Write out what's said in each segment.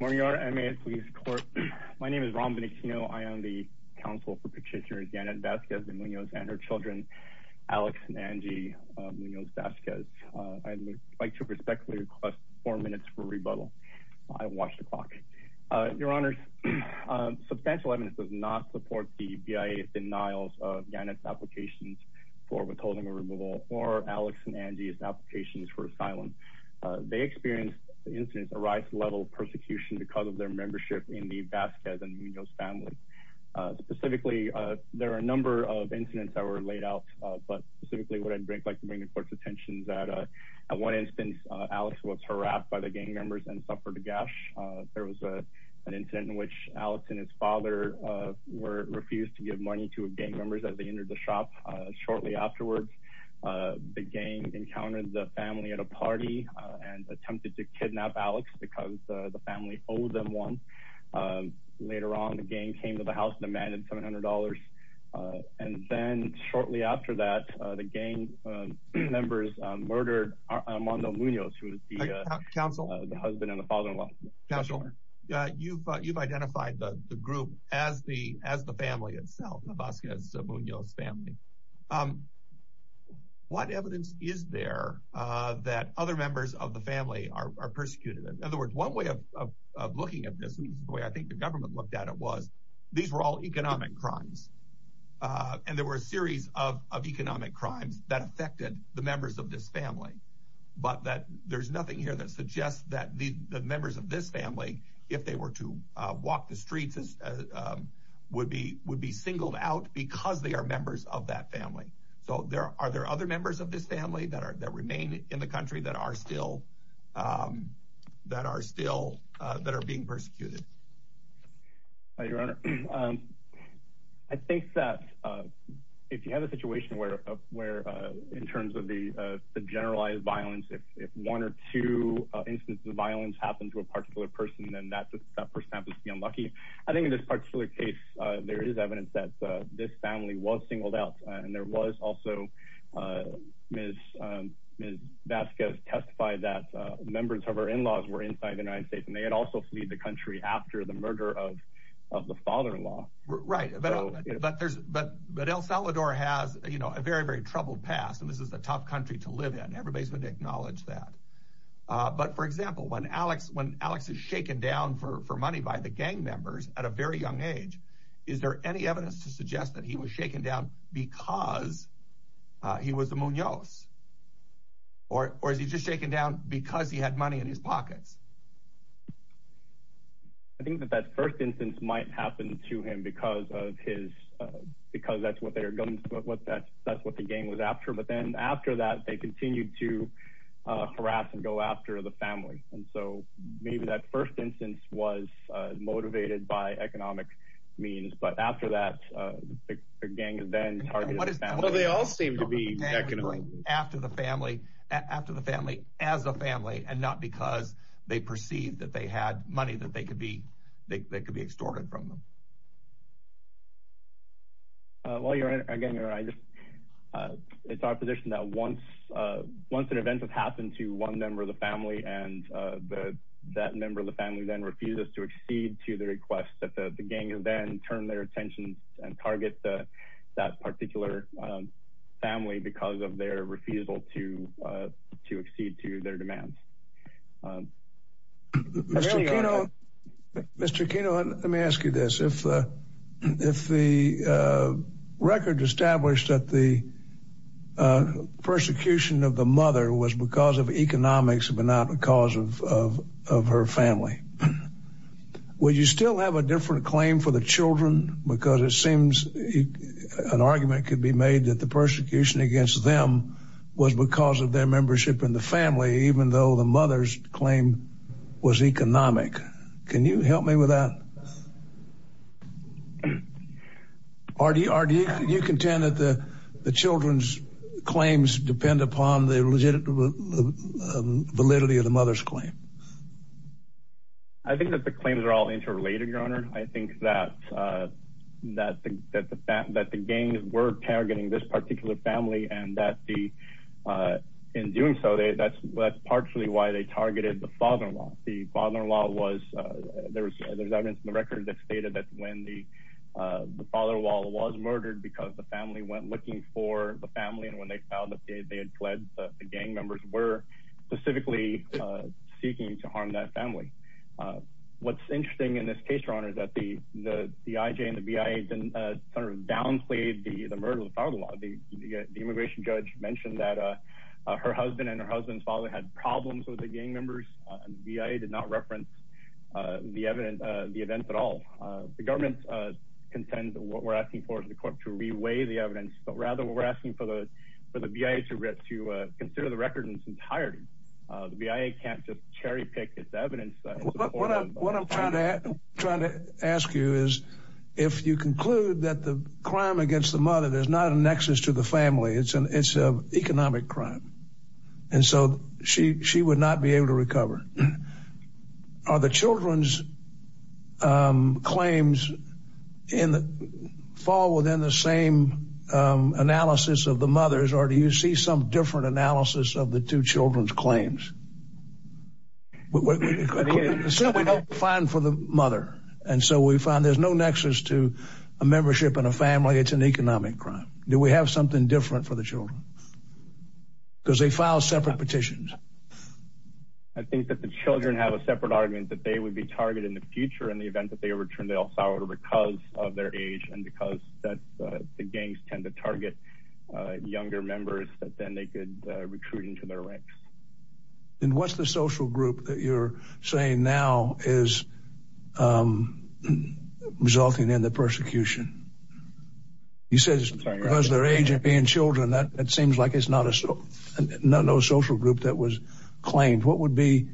Morning Your Honor, and may it please the Court. My name is Ron Bonetino. I am the counsel for Petitioner Janet Vasquez-De Munoz and her children, Alex and Angie Munoz-Vasquez. I would like to respectfully request four minutes for rebuttal. I watched the clock. Your Honor, substantial evidence does not support the BIA's denials of Janet's applications for withholding a removal or Alex and Angie's applications for asylum. They experienced incidents of rife-level persecution because of their membership in the Vasquez and Munoz family. Specifically, there are a number of incidents that were laid out, but specifically what I'd like to bring the Court's attention is that at one instance, Alex was harassed by the gang members and suffered a gash. There was an incident in which Alex and his father refused to give money to gang members as they entered the shop. Shortly afterwards, the gang encountered the family at a party and attempted to kidnap Alex because the family owed them one. Later on, the gang came to the house and demanded $700. And then shortly after that, the gang members murdered Armando Munoz, who was the husband and the father-in-law. Counsel, you've identified the group as the family itself, the Vasquez-Munoz family. What evidence is there that other members of the family are persecuted? In other words, one way of looking at this, and this is the way I think the government looked at it, was these were all economic crimes. And there were a series of economic crimes that affected the members of this family. But there's nothing here that suggests that the members of this family, if they were to walk the streets, would be singled out because they are members of that family. So are there other members of this family that remain in the country that are still that are being persecuted? Your Honor, I think that if you have a situation where in terms of generalized violence, if one or two instances of violence happen to a particular person, then that person happens to be unlucky. I think in this particular case, there is evidence that this family was singled out. And there was also, Ms. Vasquez testified that members of her in-laws were inside the United States, and they had also fled the country after the murder of the father-in-law. Right. But El Salvador has a very, very troubled past, and this is a tough country to live in. Everybody's going to acknowledge that. But for example, when Alex is shaken down for money by the gang members at a very young age, is there any evidence to suggest that he was shaken down because he was a Munoz? Or is he just shaken down because he had money in his pockets? I think that that first instance might happen to him because that's what the gang was after. But then after that, they continued to harass and go after the family. And so maybe that first instance was motivated by economic means. But after that, the gang then targeted the family. Well, they all seem to be economic. After the family, as a family, and not because they perceived that they had money that they could be extorted from them. Well, again, it's our position that once an event has happened to one member of the family, and that member of the family then refuses to accede to the request that the gang then turn their attention and target that particular family because of their refusal to accede to their demands. Mr. Kino, let me ask you this. If the record established that the persecution of the mother was because of economics, but not because of her family, would you still have a different claim for the children? Because it seems an argument could be made that the persecution against them was because of their membership in the family, even though the mother's claim was economic. Can you help me with that? Or do you contend that the children's claims depend upon the validity of the mother's claim? I think that the claims are all interrelated, Your Honor. I think that the gangs were targeting this particular family, and that in doing so, that's partially why they targeted the father-in-law. The father-in-law was, there's evidence in the record that stated that when the father-in-law was murdered because the family went looking for the family, and when they found that they harmed that family. What's interesting in this case, Your Honor, is that the IJ and the BIA downplayed the murder of the father-in-law. The immigration judge mentioned that her husband and her husband's father had problems with the gang members, and the BIA did not reference the event at all. The government contends that what we're asking for is the court to reweigh the evidence, but rather we're asking for the BIA to consider the record in its entirety. The BIA can't just cherry-pick its evidence. What I'm trying to ask you is, if you conclude that the crime against the mother, there's not a nexus to the family, it's an economic crime, and so she would not be able to recover. Are the children's claims fall within the same analysis of the two children's claims? So we don't find for the mother, and so we find there's no nexus to a membership in a family, it's an economic crime. Do we have something different for the children? Because they file separate petitions. I think that the children have a separate argument that they would be targeted in the future in the event that they return to El Salvador because of their age, and because the gangs tend to target younger members, that then they could recruit into their ranks. And what's the social group that you're saying now is resulting in the persecution? You said because their age and being children, that it seems like it's not a social group that was claimed. What would be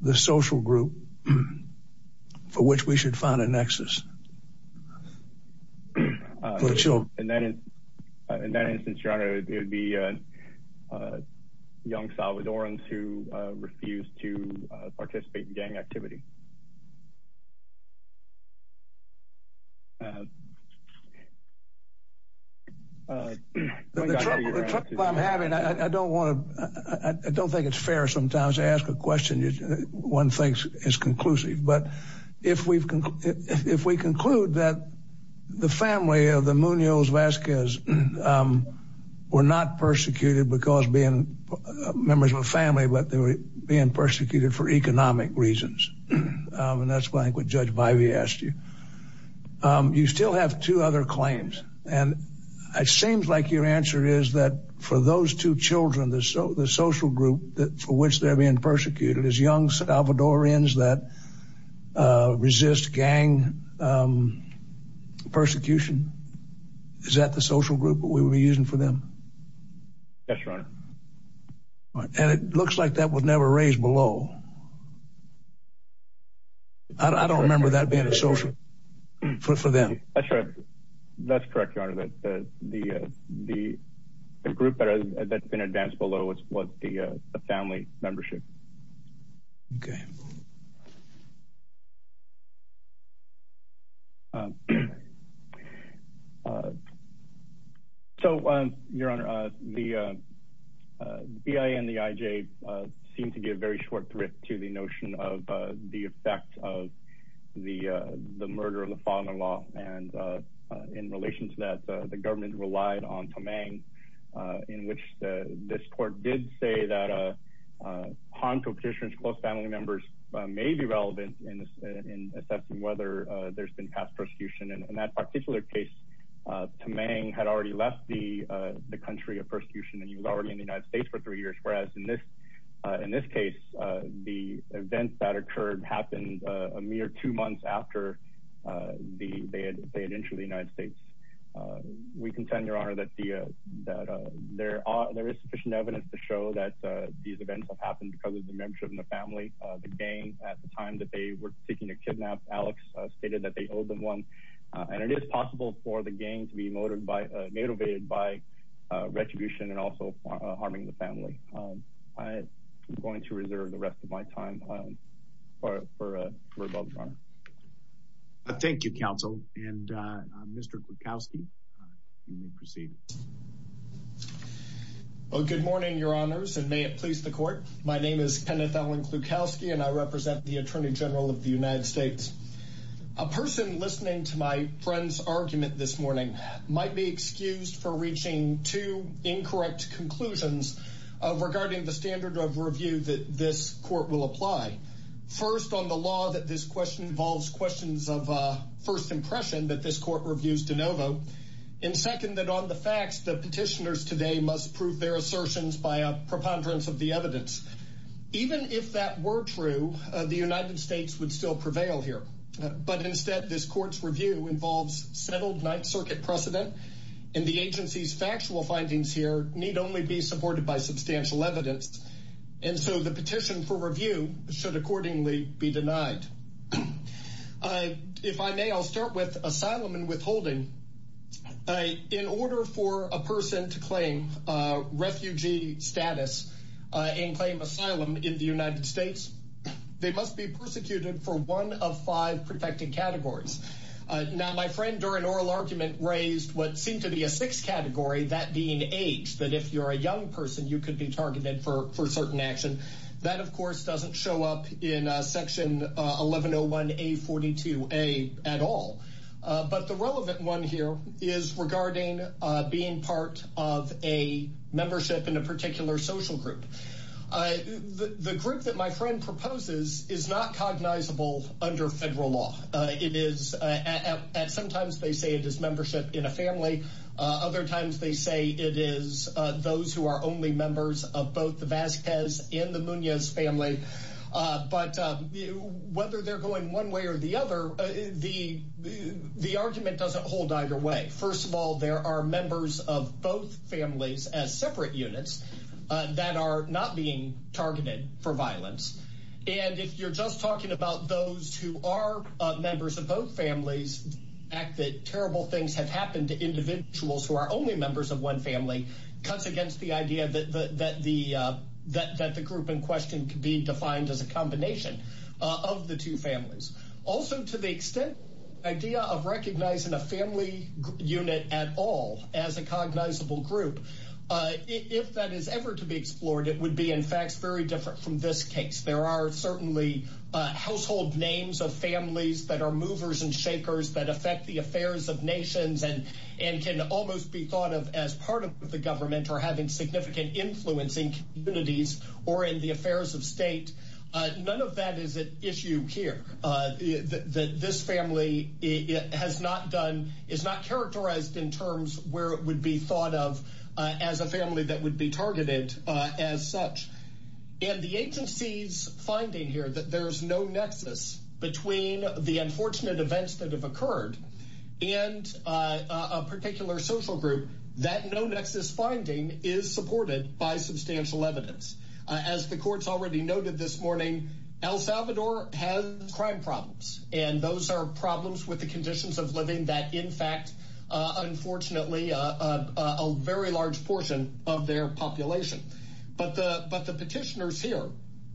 the social group for which we should find a nexus? In that instance, your honor, it would be young Salvadorans who refuse to participate in gang activity. The trouble I'm having, I don't want to, I don't think it's fair sometimes to ask a question one thinks is conclusive, but if we conclude that the family of the Muñoz-Vazquez were not persecuted because being members of a family, but they were being persecuted for economic reasons, and that's why I think what Judge Bivey asked you. You still have two other claims, and it seems like your answer is that for those two children, the social group for which they're being persecuted is young Salvadorans that resist gang persecution. Is that the social group that we would be using for them? Yes, your honor. And it looks like that was never raised below. I don't remember that being a social group for them. That's correct. That's correct, your family membership. So your honor, the BIA and the IJ seem to give very short thrift to the notion of the effect of the murder of the father-in-law. And in relation to that, the government relied on ponto petitions, close family members may be relevant in assessing whether there's been past persecution. And in that particular case, Tamang had already left the country of persecution and he was already in the United States for three years. Whereas in this case, the event that occurred happened a mere two months after they had entered the United States. We contend, your honor, that there is sufficient evidence to show that these events have happened because of the membership in the family, the gang at the time that they were seeking to kidnap Alex stated that they owed them one. And it is possible for the gang to be motivated by retribution and also harming the family. I'm going to reserve the rest of my time for above, your honor. Thank you, counsel. And Mr. Klutkowski, you may proceed. Well, good morning, your honors, and may it please the court. My name is Kenneth Allen Klutkowski and I represent the attorney general of the United States. A person listening to my friend's argument this morning might be excused for reaching two incorrect conclusions regarding the standard of review that this court will apply first on the law that this question involves questions of first impression that this court reviews de novo. And second, that on the facts, the petitioners today must prove their assertions by a preponderance of the evidence. Even if that were true, the United States would still prevail here. But instead, this court's review involves settled Ninth Circuit precedent. And the agency's factual findings here need only be supported by substantial evidence. And so the petition for review should accordingly be denied. If I may, I'll start with asylum and withholding. In order for a person to claim refugee status and claim asylum in the United States, they must be persecuted for one of five protecting categories. Now, my friend during oral argument raised what seemed to be a sixth category, that being age, that if you're a young person, you could be targeted for certain action. That, of course, doesn't show up in Section 1101A42A at all. But the relevant one here is regarding being part of a membership in a particular social group. The group that my friend proposes is not cognizable under federal law. Sometimes they say it is membership in a family. Other times they say it is those who are only members of both the Vasquez and the Munoz family. But whether they're going one way or the other, the argument doesn't hold either way. First of all, there are members of both families as separate units that are not being targeted for violence. And if you're just talking about those who are members of both families, the fact that terrible things have happened to one family cuts against the idea that the group in question could be defined as a combination of the two families. Also, to the extent idea of recognizing a family unit at all as a cognizable group, if that is ever to be explored, it would be, in fact, very different from this case. There are certainly household names of families that are movers and shakers that affect the affairs of nations and can almost be thought of as part of the government or having significant influence in communities or in the affairs of state. None of that is an issue here. This family is not characterized in terms where it would be thought of as a family that would be targeted as such. And the agency's finding here that there's no nexus between the unfortunate events that have occurred and a particular social group, that no nexus finding is supported by substantial evidence. As the courts already noted this morning, El Salvador has crime problems, and those are problems with the conditions of living that, in fact, unfortunately, a very large portion of their population. But the petitioners here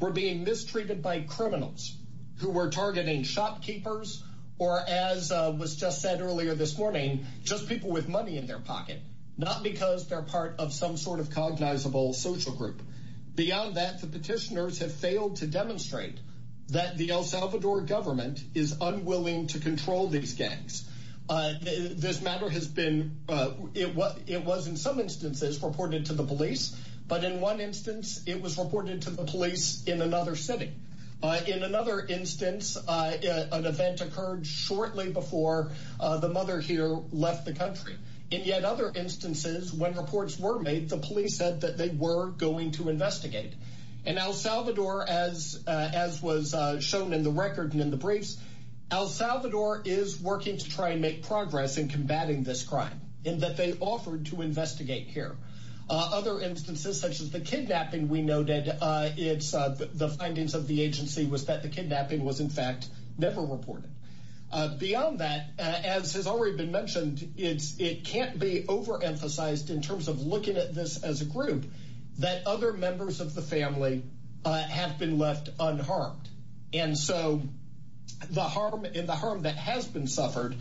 were being mistreated by criminals who were targeting shopkeepers or, as was just said earlier this morning, just people with money in their pocket, not because they're part of some sort of cognizable social group. Beyond that, the petitioners have failed to demonstrate that the El Salvador government is unwilling to control these gangs. This matter has been, it was in some instances reported to the police, but in one instance it was reported to the police in another city. In another instance, an event occurred shortly before the mother here left the country. In yet other instances, when reports were made, the police said that they were going to investigate. And El Salvador, as was shown in the record and in the briefs, El Salvador is working to try and make progress in combating this crime, and that they offered to investigate here. Other instances, such as the kidnapping we noted, the findings of the agency was that the kidnapping was, in fact, never reported. Beyond that, as has already been mentioned, it can't be overemphasized in terms of looking at this as a group, that other members of the family have been left unharmed. And so, the harm that has been suffered,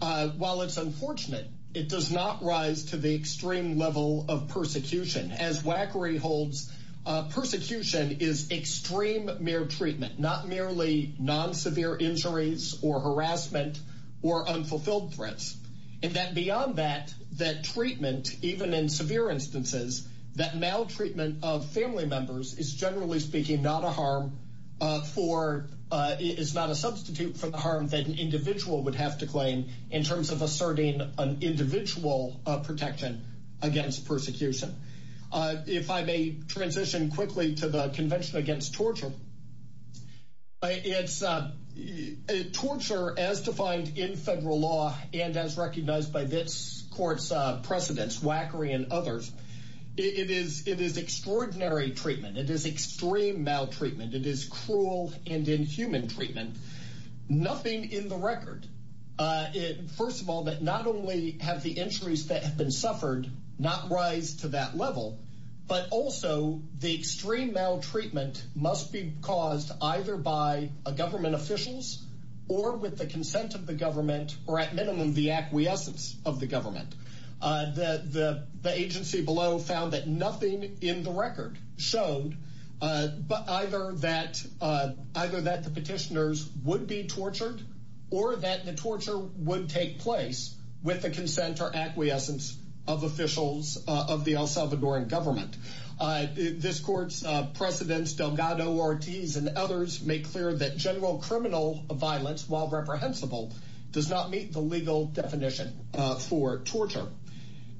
while it's unfortunate, it does not rise to the extreme level of persecution. As Wackery holds, persecution is extreme mere treatment, not merely non-severe injuries or harassment or unfulfilled threats. And that beyond that, that treatment, even in severe instances, that maltreatment of family members is, generally speaking, not a substitute for the harm that an individual would have to claim in terms of asserting an individual protection against persecution. If I may transition quickly to the Convention Against Torture, it's torture as defined in federal law and as recognized by this court's precedents, Wackery and others. It is extraordinary treatment. It is extreme maltreatment. It is cruel and inhuman treatment. Nothing in the record, first of all, that not only have the injuries that have been suffered not rise to that level, but also the extreme maltreatment must be brought either by government officials or with the consent of the government, or at minimum, the acquiescence of the government. The agency below found that nothing in the record showed either that the petitioners would be tortured or that the torture would take place with the consent or acquiescence of officials of the El Salvadoran government. This court's precedents, Delgado, Ortiz, and others make clear that general criminal violence, while reprehensible, does not meet the legal definition for torture.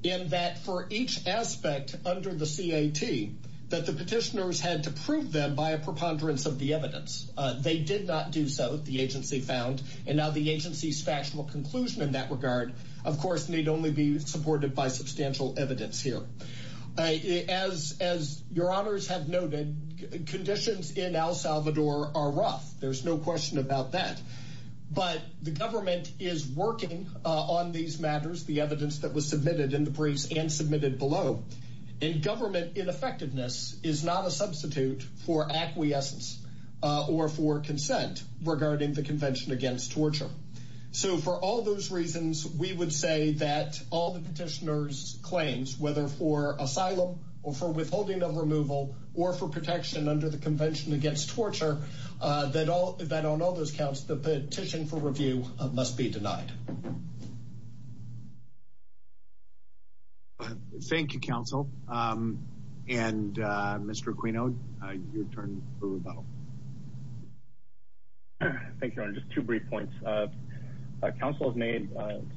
In that, for each aspect under the CAT, that the petitioners had to prove them by a preponderance of the evidence. They did not do so, the agency found, and now the agency's factual conclusion in that regard, of course, need only be supported by substantial evidence here. As your honors have noted, conditions in El Salvador are rough. There's no question about that. But the government is working on these matters, the evidence that was submitted in the briefs and submitted below, and government ineffectiveness is not a substitute for acquiescence or for consent regarding the Convention Against Torture. So for all those reasons, we would say that all the petitioners' claims, whether for asylum or for withholding of removal or for protection under the Convention Against Torture, that on all those counts, the petition for review must be denied. Thank you, counsel. And Mr. Aquino, your turn for rebuttal. Thank you, your honor. Just two brief points. Council has made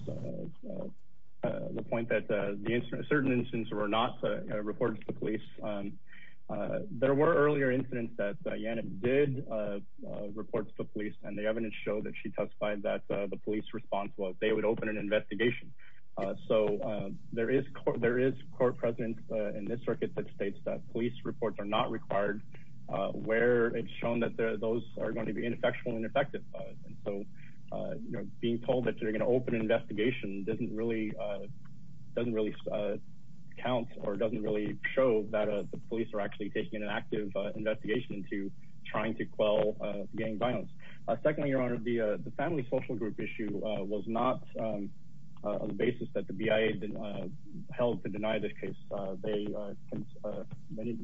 the point that certain incidents were not reported to the police. There were earlier incidents that did report to the police, and the evidence showed that she testified that the police response was they would open an investigation. So there is court precedent in this circuit that states that police reports are not required, where it's shown that those are going to be ineffectual and ineffective. And so being told that you're going to open an investigation doesn't really count or doesn't really show that the police are actually taking an active investigation into trying to quell gang violence. Secondly, your honor, the family social group issue was not a basis that the BIA held to deny this case. They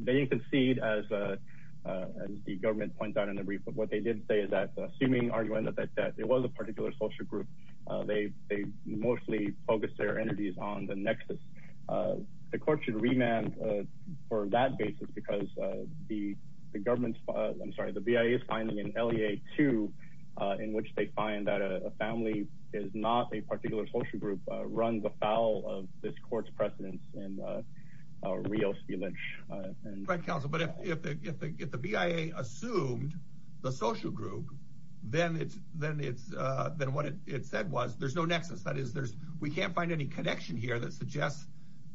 didn't concede, as the government points out in the brief, but what they did say is that assuming argument that it was a particular social group, they mostly focused their energies on the nexus. The court should remand for that basis because the government's, I'm sorry, the BIA's finding in LEA 2, in which they find that a family is not a particular social group, runs afoul of this court's precedence in real spielage. Right, counsel, but if the BIA assumed the social group, then what it said was, there's no nexus. That is, we can't find any connection here that suggests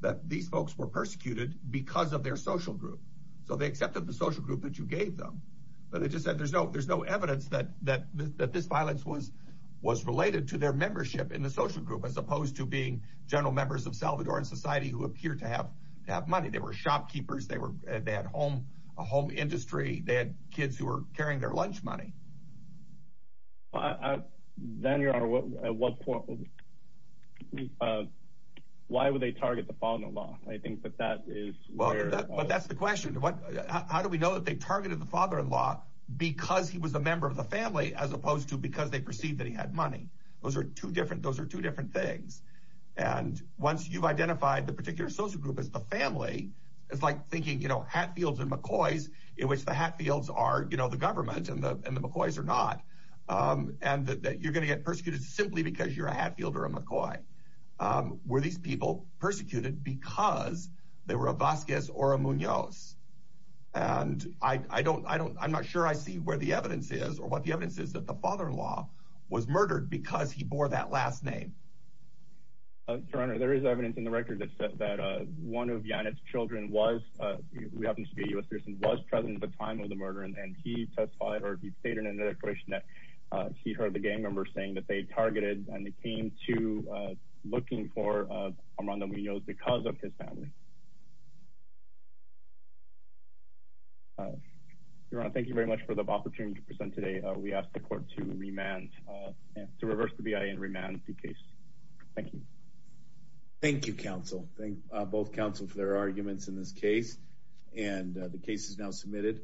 that these folks were persecuted because of their social group. So they accepted the social group that you gave them, but they just said there's no evidence that this violence was related to their membership in the social group, as opposed to being general members of Salvadoran society who appear to have money. They were shopkeepers. They had a home industry. They had kids who were carrying their lunch money. Why would they target the father-in-law? I think that that is where... But that's the question. How do we know that they targeted the father-in-law because he was a member of the family, as opposed to because they perceived that he had money? Those are two different things. And once you've identified the particular social group as the family, it's like thinking, you know, Hatfields and McCoys, in which the Hatfields are, you know, the government and the McCoys are not, and that you're going to get persecuted simply because you're a Hatfield or a McCoy. Were these people persecuted because they were a Vasquez or a Munoz? And I'm not sure I see where the evidence is or what the evidence is that the father-in-law was murdered because he bore that last name. Your Honor, there is evidence in the record that says that one of Yanet's children was, who happens to be a U.S. citizen, was present at the time of the murder. And he testified, or he stated in another question, that he heard the gang members saying that they targeted and they came to looking for Armando Munoz because of his family. Your Honor, thank you very much for the opportunity to present today. We asked the court to remand, to reverse the BIA and remand the case. Thank you. Thank you, counsel. Thank both counsel for their arguments in this case. And the case is now submitted.